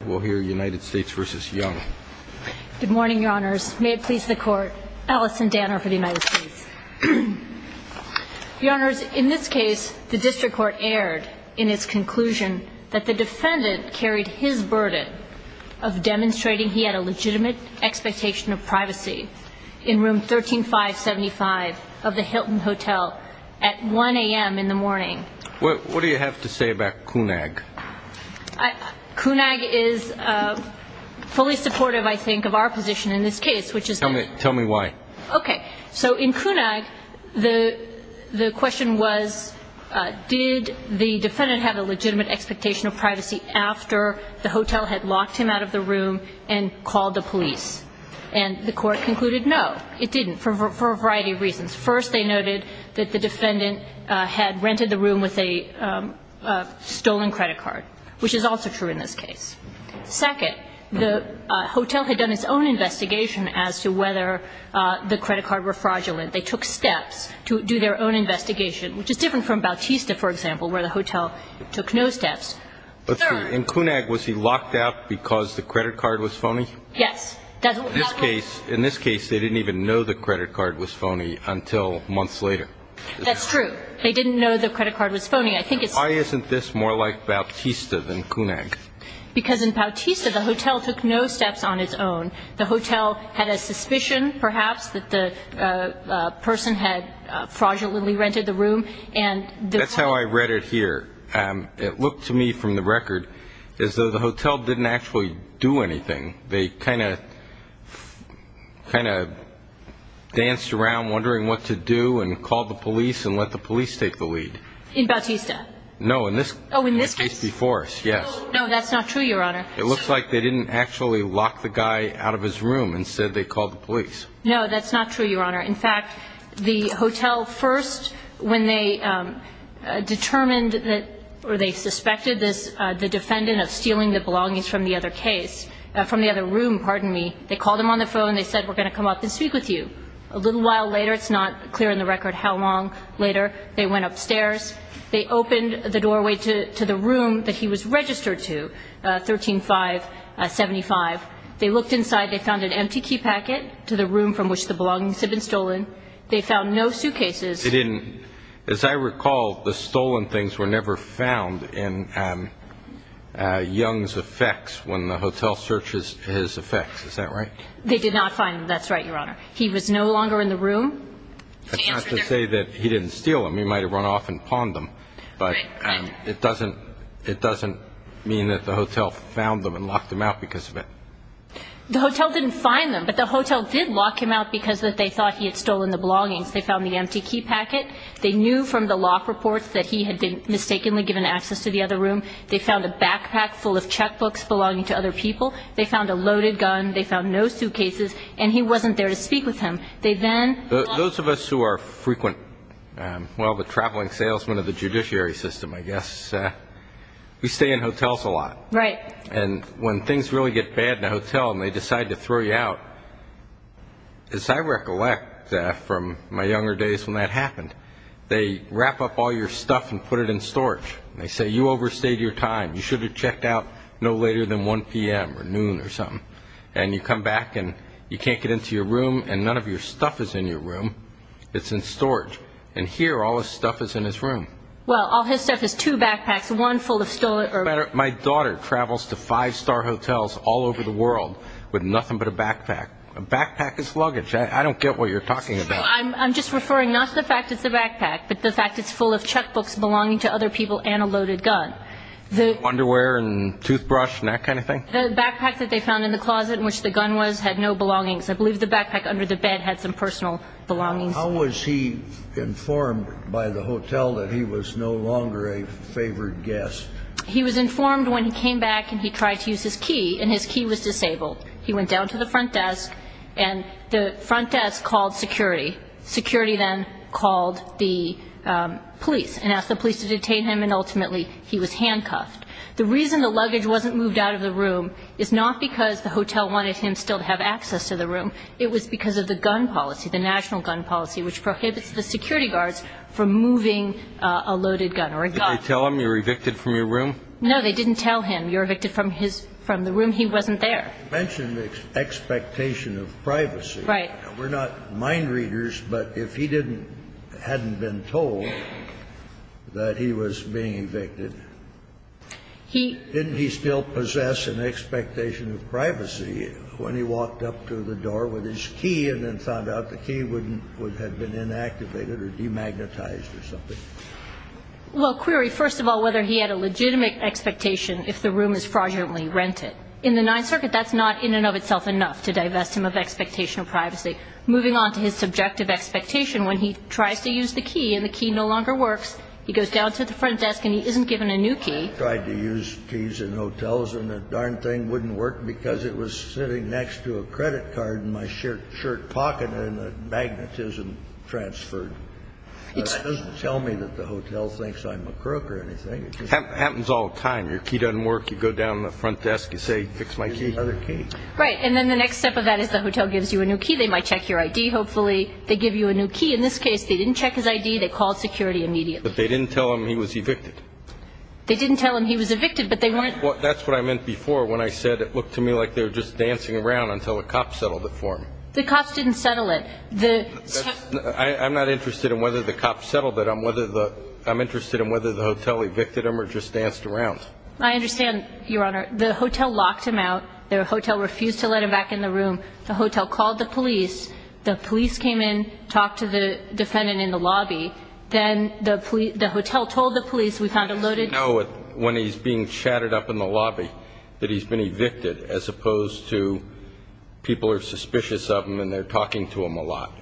Good morning, your honors. May it please the court, Alison Danner for the United States. Your honors, in this case, the district court erred in its conclusion that the defendant carried his burden of demonstrating he had a legitimate expectation of privacy in room 13575 of the Hilton Hotel at 1 a.m. in the morning. What do you have to say about CUNAG? CUNAG is fully supportive, I think, of our position in this case. Tell me why. Okay. So in CUNAG, the question was, did the defendant have a legitimate expectation of privacy after the hotel had locked him out of the room and called the police? And the court concluded, no, it didn't, for a variety of reasons. First, they noted that the defendant had rented the room with a stolen credit card, which is also true in this case. Second, the hotel had done its own investigation as to whether the credit card were fraudulent. They took steps to do their own investigation, which is different from Bautista, for example, where the hotel took no steps. And CUNAG, was he locked out because the credit card was phony? Yes. In this case, they didn't even know the credit card was phony until months later. That's true. They didn't know the credit card was phony. Why isn't this more like Bautista than CUNAG? Because in Bautista, the hotel took no steps on its own. The hotel had a suspicion, perhaps, that the person had fraudulently rented the room. That's how I read it here. It looked to me from the record as though the hotel didn't actually do anything. They kind of danced around wondering what to do and called the police and let the police take the lead. In Bautista? No, in this case before us, yes. No, that's not true, Your Honor. It looks like they didn't actually lock the guy out of his room. Instead, they called the police. No, that's not true, Your Honor. In fact, the hotel first, when they determined or they suspected the defendant of stealing the belongings from the other case, from the other room, pardon me, they called him on the phone and they said, we're going to come up and speak with you. A little while later, it's not clear in the record how long later, they went upstairs. They opened the doorway to the room that he was registered to, 13-5-75. They looked inside. They found an empty key packet to the room from which the belongings had been stolen. They found no suitcases. They didn't. As I recall, the stolen things were never found in Young's effects when the hotel searches his effects. Is that right? They did not find them. That's right, Your Honor. He was no longer in the room. That's not to say that he didn't steal them. He might have run off and pawned them. But it doesn't mean that the hotel found them and locked them out because of it. The hotel didn't find them. But the hotel did lock him out because they thought he had stolen the belongings. They found the empty key packet. They knew from the lock reports that he had been mistakenly given access to the other room. They found a backpack full of checkbooks belonging to other people. They found a loaded gun. They found no suitcases. And he wasn't there to speak with him. Those of us who are frequent, well, the traveling salesmen of the judiciary system, I guess, we stay in hotels a lot. Right. And when things really get bad in a hotel and they decide to throw you out, as I recollect from my younger days when that happened, they wrap up all your stuff and put it in storage. They say you overstayed your time. You should have checked out no later than 1 p.m. or noon or something. And you come back and you can't get into your room and none of your stuff is in your room. It's in storage. And here all his stuff is in his room. Well, all his stuff is two backpacks, one full of stolen or ---- My daughter travels to five-star hotels all over the world with nothing but a backpack. A backpack is luggage. I don't get what you're talking about. I'm just referring not to the fact it's a backpack but the fact it's full of checkbooks belonging to other people and a loaded gun. Underwear and toothbrush and that kind of thing? The backpack that they found in the closet in which the gun was had no belongings. I believe the backpack under the bed had some personal belongings. How was he informed by the hotel that he was no longer a favored guest? He was informed when he came back and he tried to use his key and his key was disabled. He went down to the front desk and the front desk called security. Security then called the police and asked the police to detain him and ultimately he was handcuffed. The reason the luggage wasn't moved out of the room is not because the hotel wanted him still to have access to the room. It was because of the gun policy, the national gun policy, which prohibits the security guards from moving a loaded gun or a gun. Did they tell him you were evicted from your room? No, they didn't tell him you were evicted from his room. He wasn't there. You mentioned the expectation of privacy. Right. We're not mind readers, but if he hadn't been told that he was being evicted, didn't he still possess an expectation of privacy when he walked up to the door with his key and then found out the key would have been inactivated or demagnetized or something? Well, Query, first of all, whether he had a legitimate expectation if the room is fraudulently rented. In the Ninth Circuit, that's not in and of itself enough to divest him of expectation of privacy. Moving on to his subjective expectation, when he tries to use the key and the key no longer works, he goes down to the front desk and he isn't given a new key. He tried to use keys in hotels and the darn thing wouldn't work because it was sitting next to a credit card in my shirt pocket and the magnetism transferred. It doesn't tell me that the hotel thinks I'm a crook or anything. It just happens all the time. Your key doesn't work. You go down to the front desk, you say, fix my key. Right. And then the next step of that is the hotel gives you a new key. They might check your I.D. Hopefully they give you a new key. In this case, they didn't check his I.D. They called security immediately. But they didn't tell him he was evicted. They didn't tell him he was evicted, but they weren't. That's what I meant before when I said it looked to me like they were just dancing around until a cop settled it for him. The cops didn't settle it. I'm not interested in whether the cops settled it. I'm interested in whether the hotel evicted him or just danced around. I understand, Your Honor. The hotel locked him out. The hotel refused to let him back in the room. The hotel called the police. The police came in, talked to the defendant in the lobby. Then the hotel told the police we found a loaded gun. How does he know when he's being chatted up in the lobby that he's been evicted as opposed to people are suspicious of him and they're talking to him a lot?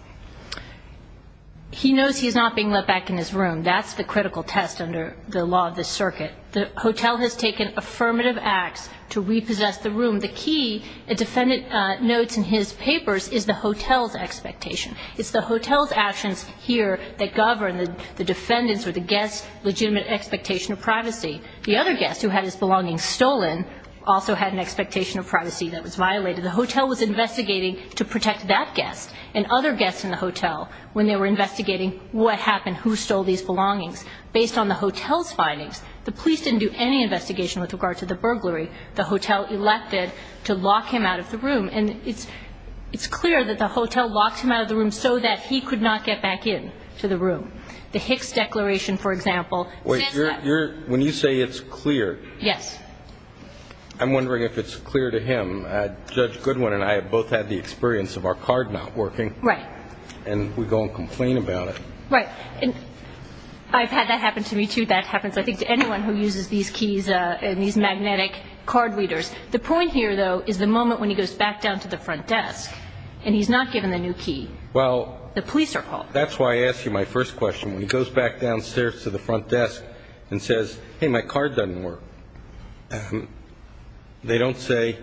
He knows he's not being let back in his room. That's the critical test under the law of this circuit. The hotel has taken affirmative acts to repossess the room. The key, a defendant notes in his papers, is the hotel's expectation. It's the hotel's actions here that govern the defendant's or the guest's legitimate expectation of privacy. The other guest who had his belongings stolen also had an expectation of privacy that was violated. The hotel was investigating to protect that guest and other guests in the hotel when they were investigating what happened, who stole these belongings. Based on the hotel's findings, the police didn't do any investigation with regard to the burglary. The hotel elected to lock him out of the room, and it's clear that the hotel locked him out of the room so that he could not get back in to the room. The Hicks Declaration, for example, says that. When you say it's clear, I'm wondering if it's clear to him. Judge Goodwin and I have both had the experience of our card not working, and we go and complain about it. Right. I've had that happen to me, too. That happens, I think, to anyone who uses these keys and these magnetic card readers. The point here, though, is the moment when he goes back down to the front desk and he's not given the new key. The police are called. That's why I asked you my first question. When he goes back downstairs to the front desk and says, hey, my card doesn't work, they don't say,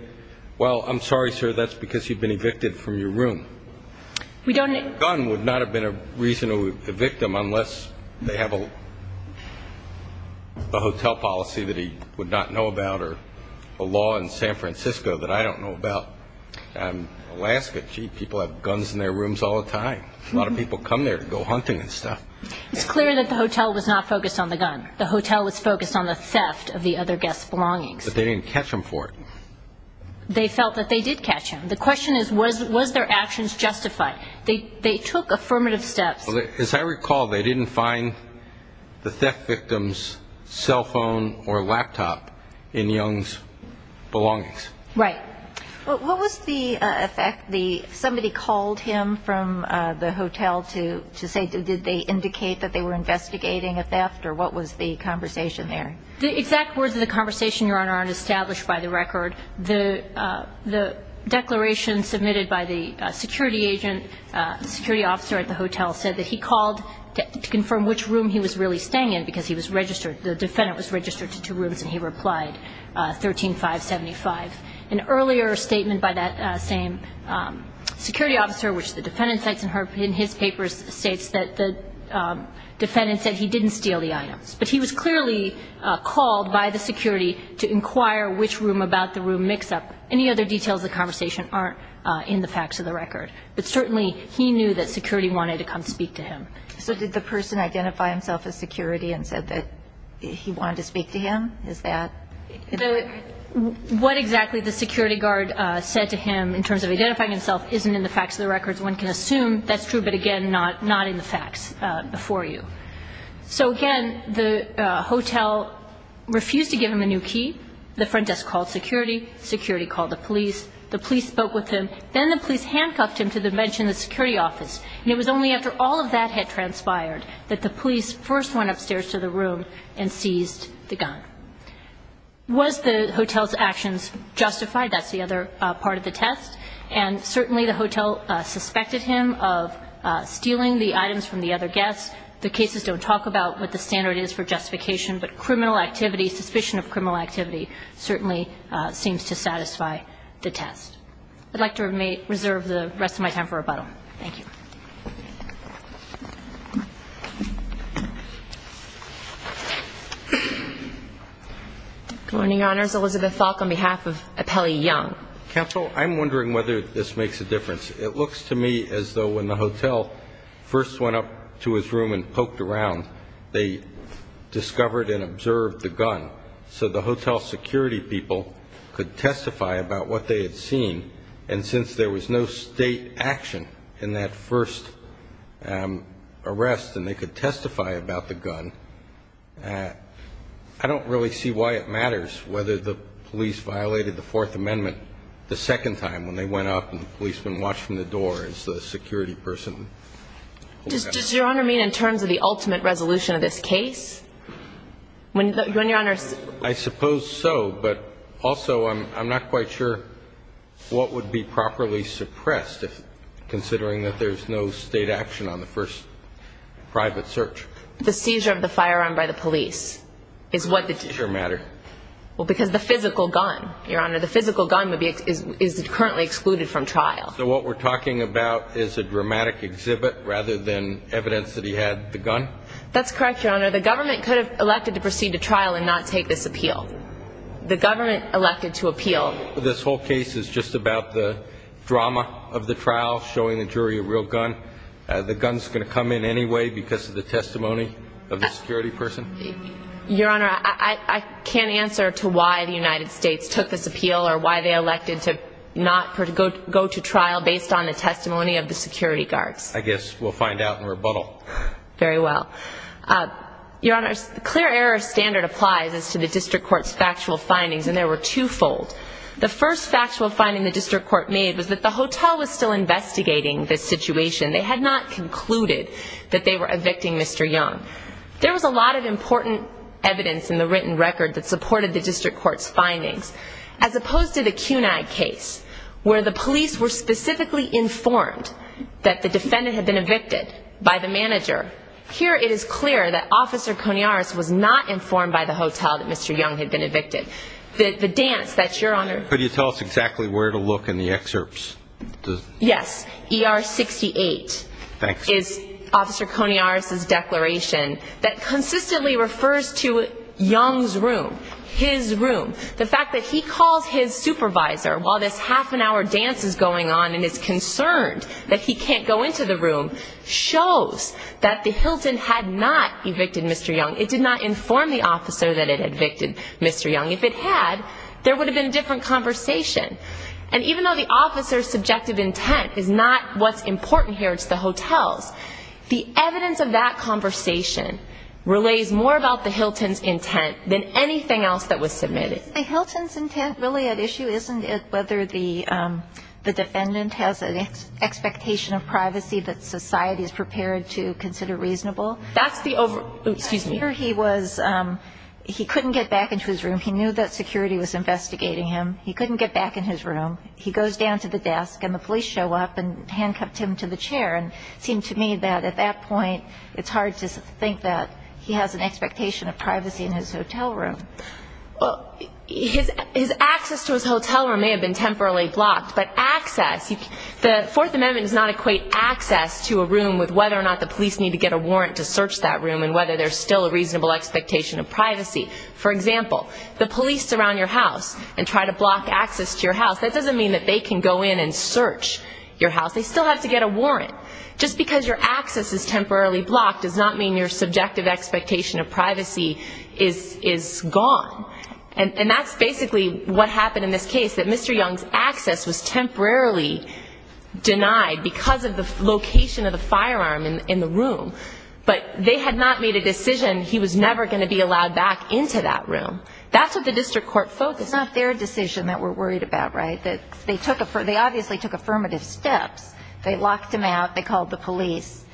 well, I'm sorry, sir, that's because you've been evicted from your room. A gun would not have been a reason to evict him unless they have a hotel policy that he would not know about or a law in San Francisco that I don't know about. In Alaska, gee, people have guns in their rooms all the time. A lot of people come there to go hunting and stuff. It's clear that the hotel was not focused on the gun. The hotel was focused on the theft of the other guest's belongings. But they didn't catch him for it. They felt that they did catch him. The question is, was their actions justified? They took affirmative steps. As I recall, they didn't find the theft victim's cell phone or laptop in Young's belongings. Right. What was the effect? Somebody called him from the hotel to say, did they indicate that they were investigating a theft? Or what was the conversation there? The exact words of the conversation, Your Honor, aren't established by the record. The declaration submitted by the security agent, the security officer at the hotel, said that he called to confirm which room he was really staying in because he was registered. The defendant was registered to two rooms, and he replied, 13-575. An earlier statement by that same security officer, which the defendant cites in his papers, states that the defendant said he didn't steal the items. But he was clearly called by the security to inquire which room about the room mix-up. Any other details of the conversation aren't in the facts of the record. But certainly he knew that security wanted to come speak to him. So did the person identify himself as security and said that he wanted to speak to him? What exactly the security guard said to him in terms of identifying himself isn't in the facts of the records. One can assume that's true, but, again, not in the facts before you. So, again, the hotel refused to give him a new key. The front desk called security. Security called the police. The police spoke with him. Then the police handcuffed him to the bench in the security office. And it was only after all of that had transpired that the police first went upstairs to the room and seized the gun. Was the hotel's actions justified? That's the other part of the test. And certainly the hotel suspected him of stealing the items from the other guests. The cases don't talk about what the standard is for justification, but criminal activity, suspicion of criminal activity certainly seems to satisfy the test. I'd like to reserve the rest of my time for rebuttal. Thank you. Good morning, Your Honors. Elizabeth Falk on behalf of Apelli Young. Counsel, I'm wondering whether this makes a difference. It looks to me as though when the hotel first went up to his room and poked around, they discovered and observed the gun. So the hotel security people could testify about what they had seen. And since there was no state action in that first attempt, arrest, and they could testify about the gun, I don't really see why it matters whether the police violated the Fourth Amendment the second time when they went up and the policemen watched from the door as the security person. Does Your Honor mean in terms of the ultimate resolution of this case? When Your Honors ---- I suppose so, but also I'm not quite sure what would be properly suppressed, considering that there's no state action on the first private search. The seizure of the firearm by the police is what the ---- It doesn't matter. Well, because the physical gun, Your Honor, the physical gun is currently excluded from trial. So what we're talking about is a dramatic exhibit rather than evidence that he had the gun? That's correct, Your Honor. The government could have elected to proceed to trial and not take this appeal. The government elected to appeal. Well, this whole case is just about the drama of the trial, showing the jury a real gun. The gun is going to come in anyway because of the testimony of the security person? Your Honor, I can't answer to why the United States took this appeal or why they elected to not go to trial based on the testimony of the security guards. I guess we'll find out in rebuttal. Very well. Your Honor, the clear error standard applies as to the district court's factual findings, and they were twofold. The first factual finding the district court made was that the hotel was still investigating this situation. They had not concluded that they were evicting Mr. Young. There was a lot of important evidence in the written record that supported the district court's findings. As opposed to the CUNAG case where the police were specifically informed that the defendant had been evicted by the manager, here it is clear that Officer Conyaris was not informed by the hotel that Mr. Young had been evicted. The dance that, Your Honor. Could you tell us exactly where to look in the excerpts? Yes, ER 68 is Officer Conyaris' declaration that consistently refers to Young's room, his room. The fact that he calls his supervisor while this half-an-hour dance is going on and is concerned that he can't go into the room shows that the Hilton had not evicted Mr. Young. It did not inform the officer that it had evicted Mr. Young. If it had, there would have been a different conversation. And even though the officer's subjective intent is not what's important here, it's the hotel's, the evidence of that conversation relays more about the Hilton's intent than anything else that was submitted. Isn't the Hilton's intent really at issue? Isn't it whether the defendant has an expectation of privacy that society is prepared to consider reasonable? That's the over... Here he was, he couldn't get back into his room. He knew that security was investigating him. He couldn't get back in his room. He goes down to the desk and the police show up and handcuffed him to the chair and it seemed to me that at that point it's hard to think that he has an expectation of privacy in his hotel room. Well, his access to his hotel room may have been temporarily blocked, but access, the Fourth Amendment does not equate access to a room with whether or not the police need to get a warrant to search that room and whether there's still a reasonable expectation of privacy. For example, the police surround your house and try to block access to your house, that doesn't mean that they can go in and search your house. They still have to get a warrant. Just because your access is temporarily blocked does not mean your subjective expectation of privacy is gone. And that's basically what happened in this case, that Mr. Young's access was temporarily denied because of the location of the firearm in the room. But they had not made a decision he was never going to be allowed back into that room. That's what the district court focused on. It's not their decision that we're worried about, right? They obviously took affirmative steps. They locked him out. They called the police.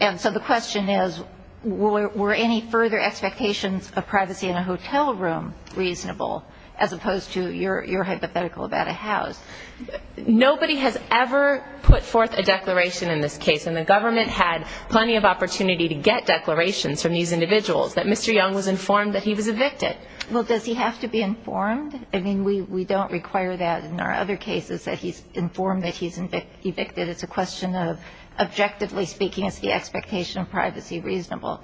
And so the question is, were any further expectations of privacy in a hotel room reasonable, as opposed to your hypothetical about a house? Nobody has ever put forth a declaration in this case, and the government had plenty of opportunity to get declarations from these individuals that Mr. Young was informed that he was evicted. Well, does he have to be informed? I mean, we don't require that in our other cases that he's informed that he's evicted. It's a question of, objectively speaking, is the expectation of privacy reasonable?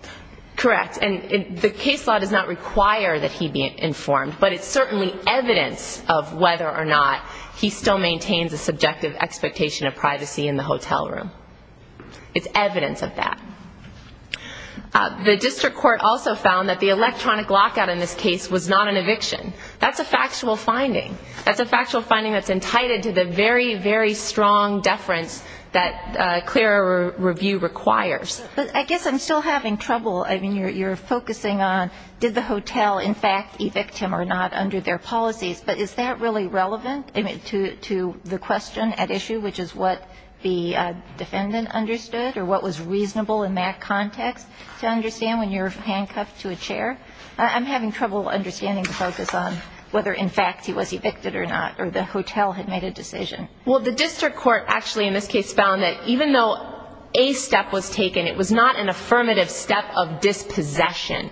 Correct. And the case law does not require that he be informed, but it's certainly evidence of whether or not he still maintains a subjective expectation of privacy in the hotel room. It's evidence of that. The district court also found that the electronic lockout in this case was not an eviction. That's a factual finding. That's a factual finding that's entitled to the very, very strong deference that clearer review requires. But I guess I'm still having trouble. I mean, you're focusing on did the hotel, in fact, evict him or not under their policies, but is that really relevant to the question at issue, which is what the defendant understood or what was reasonable in that context to understand when you're handcuffed to a chair? I'm having trouble understanding the focus on whether, in fact, he was evicted or not, or the hotel had made a decision. Well, the district court actually in this case found that even though a step was taken, it was not an affirmative step of dispossession.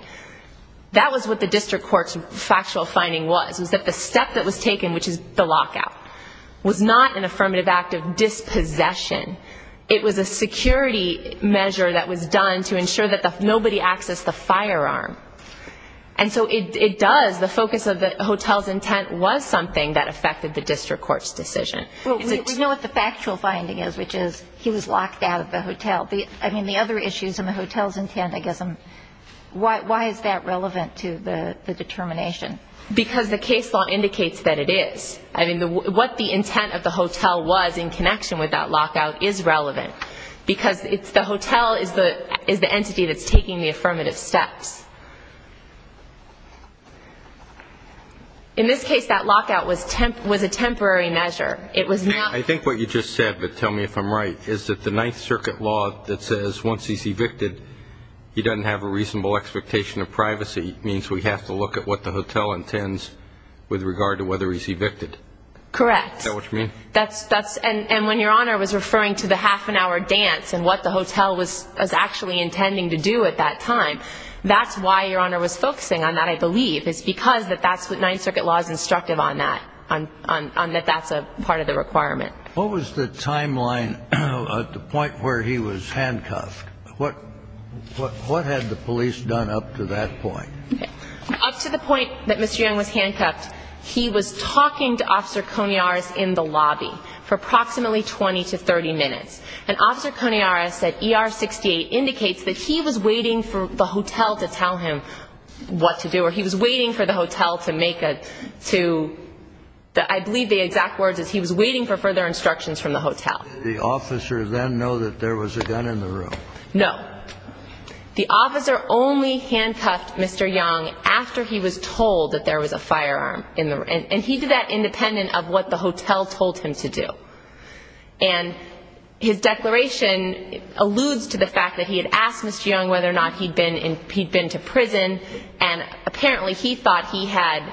That was what the district court's factual finding was, was that the step that was taken, which is the lockout, was not an affirmative act of dispossession. It was a security measure that was done to ensure that nobody accessed the firearm. And so it does, the focus of the hotel's intent was something that affected the district court's decision. We know what the factual finding is, which is he was locked out of the hotel. I mean, the other issues in the hotel's intent, I guess, why is that relevant to the determination? Because the case law indicates that it is. I mean, what the intent of the hotel was in connection with that lockout is relevant, because the hotel is the entity that's taking the affirmative steps. In this case, that lockout was a temporary measure. I think what you just said, but tell me if I'm right, is that the Ninth Circuit law that says once he's evicted, he doesn't have a reasonable expectation of privacy, means we have to look at what the hotel intends with regard to whether he's evicted. Correct. Is that what you mean? And when Your Honor was referring to the half-an-hour dance and what the hotel was actually intending to do at that time, that's why Your Honor was focusing on that, I believe. It's because that's what Ninth Circuit law is instructive on that, on that that's a part of the requirement. What was the timeline at the point where he was handcuffed? What had the police done up to that point? Up to the point that Mr. Young was handcuffed, he was talking to Officer Conearas in the lobby for approximately 20 to 30 minutes. And Officer Conearas said ER 68 indicates that he was waiting for the hotel to tell him what to do, or he was waiting for the hotel to make a, to, I believe the exact words is he was waiting for further instructions from the hotel. Did the officer then know that there was a gun in the room? No. The officer only handcuffed Mr. Young after he was told that there was a firearm in the room. And he did that independent of what the hotel told him to do. And his declaration alludes to the fact that he had asked Mr. Young whether or not he'd been to prison, and apparently he thought he had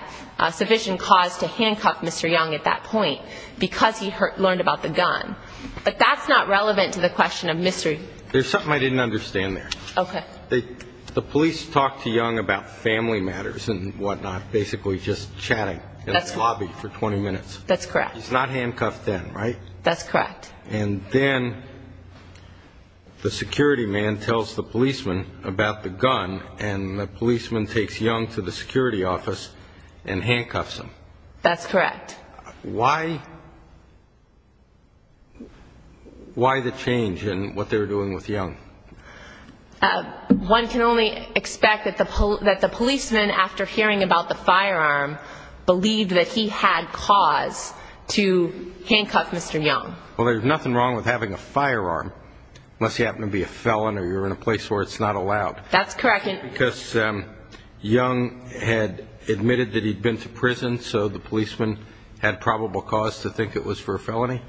sufficient cause to handcuff Mr. Young at that point because he learned about the gun. But that's not relevant to the question of mystery. There's something I didn't understand there. Okay. The police talked to Young about family matters and whatnot, basically just chatting in the lobby for 20 minutes. That's correct. He's not handcuffed then, right? That's correct. And then the security man tells the policeman about the gun, and the policeman takes Young to the security office and handcuffs him. That's correct. Why the change in what they were doing with Young? One can only expect that the policeman, after hearing about the firearm, believed that he had cause to handcuff Mr. Young. Well, there's nothing wrong with having a firearm unless you happen to be a felon or you're in a place where it's not allowed. That's correct. Because Young had admitted that he'd been to prison, so the policeman had probable cause to think it was for a felony?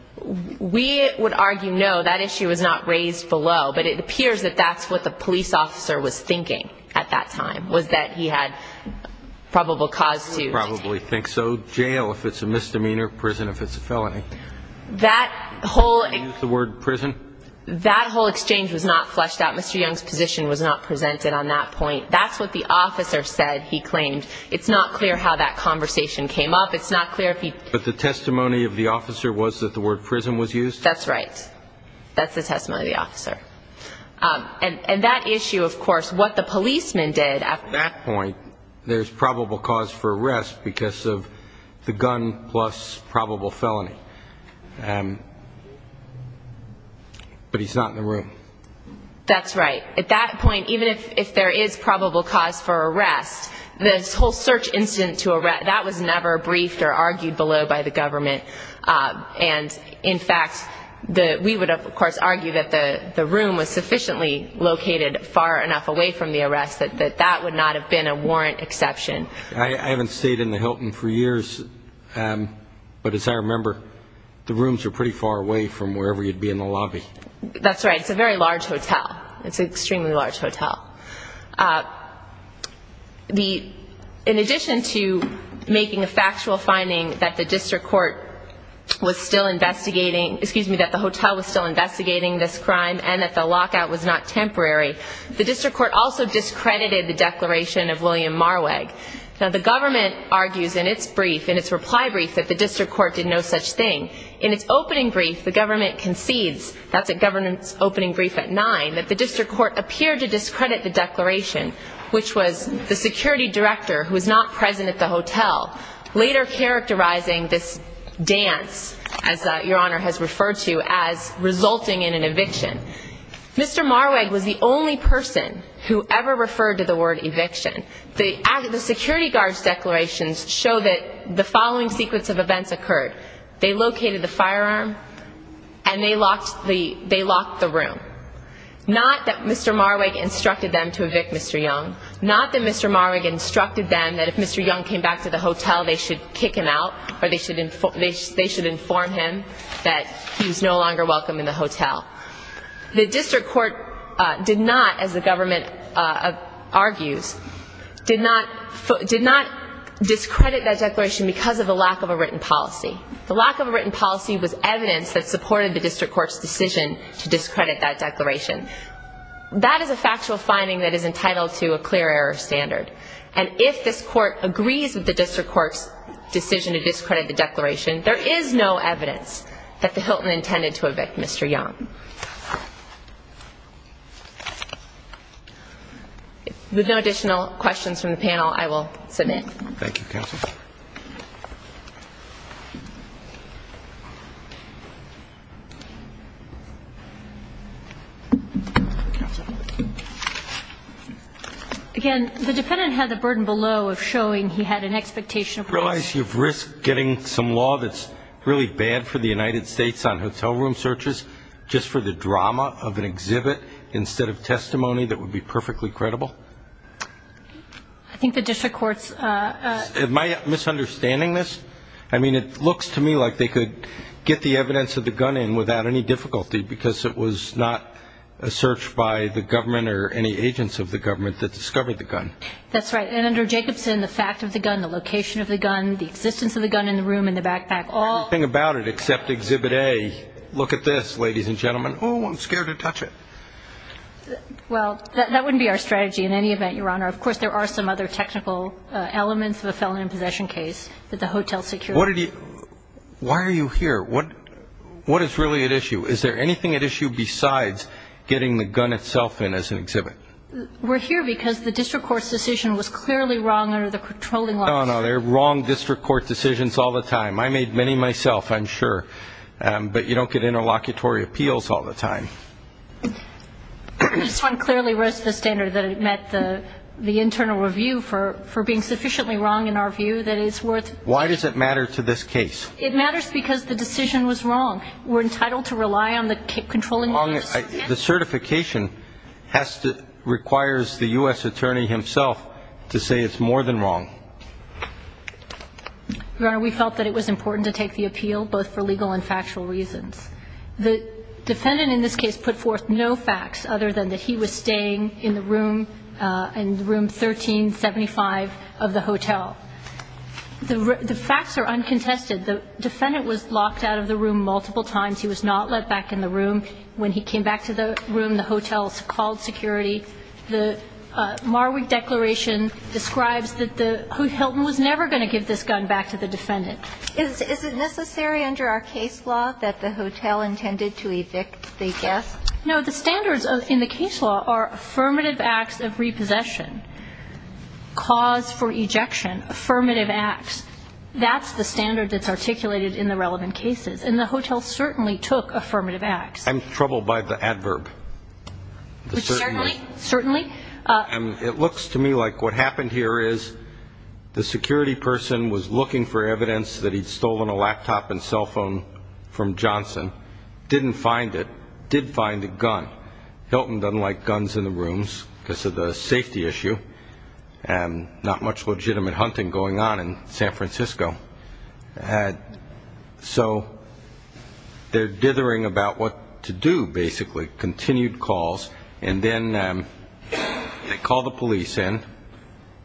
We would argue no. That issue was not raised below, but it appears that that's what the police officer was thinking at that time, was that he had probable cause to. He would probably think so. Jail if it's a misdemeanor, prison if it's a felony. That whole. Use the word prison. That whole exchange was not fleshed out. Mr. Young's position was not presented on that point. That's what the officer said, he claimed. It's not clear how that conversation came up. It's not clear if he. But the testimony of the officer was that the word prison was used? That's right. That's the testimony of the officer. And that issue, of course, what the policeman did at that point, there's probable cause for arrest because of the gun plus probable felony. But he's not in the room. That's right. At that point, even if there is probable cause for arrest, this whole search incident to arrest, that was never briefed or argued below by the government. And, in fact, we would, of course, argue that the room was sufficiently located far enough away from the arrest that that would not have been a warrant exception. I haven't stayed in the Hilton for years, but as I remember, the rooms are pretty far away from wherever you'd be in the lobby. That's right. It's a very large hotel. It's an extremely large hotel. In addition to making a factual finding that the district court was still investigating, excuse me, that the hotel was still investigating this crime and that the lockout was not temporary, the district court also discredited the declaration of William Marwag. Now, the government argues in its brief, in its reply brief, that the district court did no such thing. In its opening brief, the government concedes, that's the government's opening brief at 9, that the district court appeared to discredit the declaration, which was the security director, who was not present at the hotel, later characterizing this dance, as Your Honor has referred to, as resulting in an eviction. Mr. Marwag was the only person who ever referred to the word eviction. The security guard's declarations show that the following sequence of events occurred. They located the firearm and they locked the room. Not that Mr. Marwag instructed them to evict Mr. Young. Not that Mr. Marwag instructed them that if Mr. Young came back to the hotel, they should kick him out or they should inform him that he was no longer welcome in the hotel. The district court did not, as the government argues, did not discredit that declaration because of a lack of a written policy. The lack of a written policy was evidence that supported the district court's decision to discredit that declaration. That is a factual finding that is entitled to a clear error standard. And if this court agrees with the district court's decision to discredit the declaration, there is no evidence that the Hilton intended to evict Mr. Young. With no additional questions from the panel, I will submit. Thank you, counsel. Again, the defendant had the burden below of showing he had an expectation of privacy. Realize you've risked getting some law that's really bad for the United States on hotel room searches just for the drama of an exhibit instead of testimony that would be perfectly credible. I think the district court's ---- Am I misunderstanding this? I mean, it looks to me like they could get the evidence of the gun in without any difficulty because it was not a search by the government or any agents of the government that discovered the gun. That's right. And under Jacobson, the fact of the gun, the location of the gun, the existence of the gun in the room, in the backpack, all ---- Oh, I'm scared to touch it. Well, that wouldn't be our strategy in any event, Your Honor. Of course, there are some other technical elements of a felony in possession case that the hotel security ---- Why are you here? What is really at issue? Is there anything at issue besides getting the gun itself in as an exhibit? We're here because the district court's decision was clearly wrong under the controlling law. No, no, they're wrong district court decisions all the time. I made many myself, I'm sure. But you don't get interlocutory appeals all the time. This one clearly raised the standard that it met the internal review for being sufficiently wrong in our view that it's worth ---- Why does it matter to this case? It matters because the decision was wrong. We're entitled to rely on the controlling law. The certification has to ---- requires the U.S. attorney himself to say it's more than wrong. Your Honor, we felt that it was important to take the appeal, both for legal and factual reasons. The defendant in this case put forth no facts other than that he was staying in the room, in room 1375 of the hotel. The facts are uncontested. The defendant was locked out of the room multiple times. He was not let back in the room. When he came back to the room, the hotel called security. The Marwick Declaration describes that the hotel was never going to give this gun back to the defendant. Is it necessary under our case law that the hotel intended to evict the guest? No, the standards in the case law are affirmative acts of repossession, cause for ejection, affirmative acts. That's the standard that's articulated in the relevant cases. And the hotel certainly took affirmative acts. I'm troubled by the adverb. Certainly. It looks to me like what happened here is the security person was looking for evidence that he'd stolen a laptop and cell phone from Johnson, didn't find it, did find a gun. Hilton doesn't like guns in the rooms because of the safety issue and not much legitimate hunting going on in San Francisco. So they're dithering about what to do, basically, continued calls. And then they call the police in,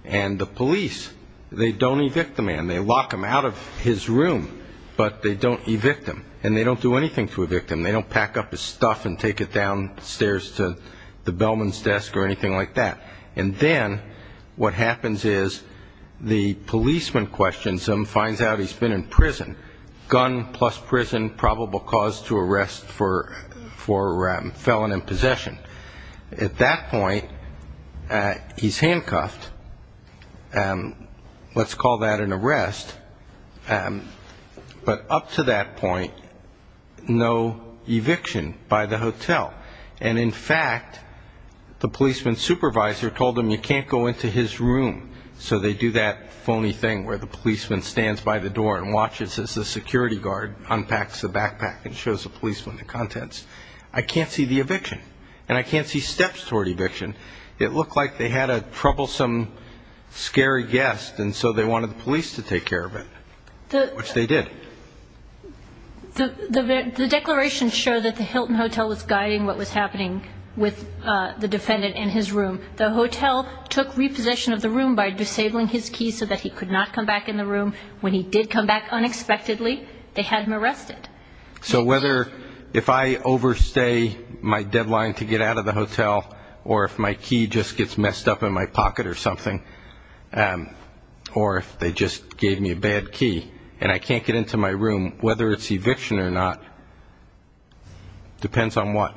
and the police, they don't evict the man. They lock him out of his room, but they don't evict him, and they don't do anything to evict him. They don't pack up his stuff and take it downstairs to the bellman's desk or anything like that. And then what happens is the policeman questions him, finds out he's been in prison. Gun plus prison, probable cause to arrest for felon in possession. At that point, he's handcuffed. Let's call that an arrest. But up to that point, no eviction by the hotel. And in fact, the policeman's supervisor told him you can't go into his room, so they do that phony thing where the policeman stands by the door and watches as the security guard unpacks the backpack and shows the policeman the contents. I can't see the eviction, and I can't see steps toward eviction. It looked like they had a troublesome, scary guest, and so they wanted the police to take care of it, which they did. The declarations show that the Hilton Hotel was guiding what was happening with the defendant in his room. The hotel took repossession of the room by disabling his keys so that he could not come back in the room. When he did come back unexpectedly, they had him arrested. So whether if I overstay my deadline to get out of the hotel or if my key just gets messed up in my pocket or something, or if they just gave me a bad key and I can't get into my room, whether it's eviction or not, depends on what.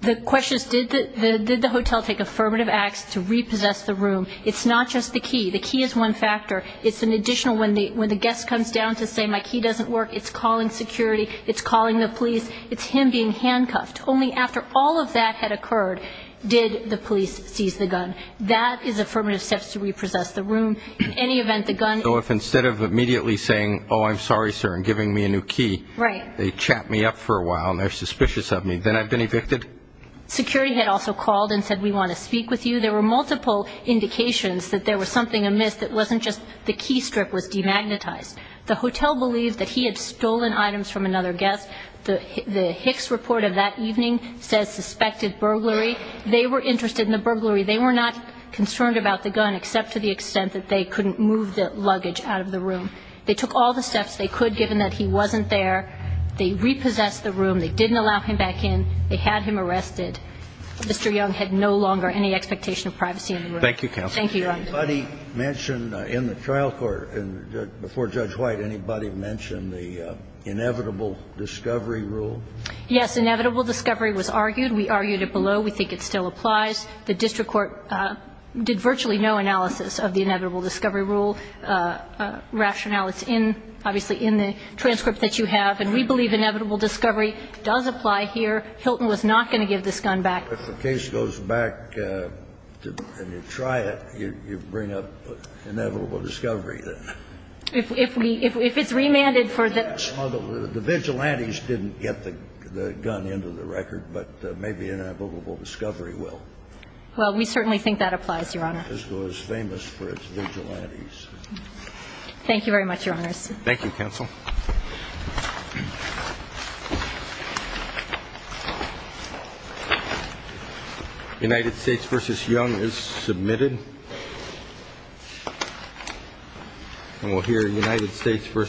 The question is, did the hotel take affirmative acts to repossess the room? It's not just the key. The key is one factor. It's an additional, when the guest comes down to say, my key doesn't work, it's calling security, it's calling the police. It's him being handcuffed. Only after all of that had occurred did the police seize the gun. That is affirmative steps to repossess the room. In any event, the gun... So if instead of immediately saying, oh, I'm sorry, sir, and giving me a new key... Right. ...they chat me up for a while and they're suspicious of me, then I've been evicted? Security had also called and said, we want to speak with you. There were multiple indications that there was something amiss that wasn't just the key strip was demagnetized. The hotel believed that he had stolen items from another guest. The Hicks report of that evening says suspected burglary. They were interested in the burglary. They were not concerned about the gun except to the extent that they couldn't move the luggage out of the room. They took all the steps they could, given that he wasn't there. They repossessed the room. They didn't allow him back in. They had him arrested. Mr. Young had no longer any expectation of privacy in the room. Thank you, counsel. Thank you, Your Honor. Anybody mention in the trial court, before Judge White, anybody mention the inevitable discovery rule? Yes. Inevitable discovery was argued. We argued it below. We think it still applies. The district court did virtually no analysis of the inevitable discovery rule rationale. It's in, obviously, in the transcript that you have. And we believe inevitable discovery does apply here. Hilton was not going to give this gun back. If the case goes back and you try it, you bring up inevitable discovery, then. If we – if it's remanded for the – The vigilantes didn't get the gun into the record, but maybe inevitable discovery will. Well, we certainly think that applies, Your Honor. This was famous for its vigilantes. Thank you very much, Your Honors. Thank you, counsel. United States v. Young is submitted. And we'll hear United States v. Young in a moment.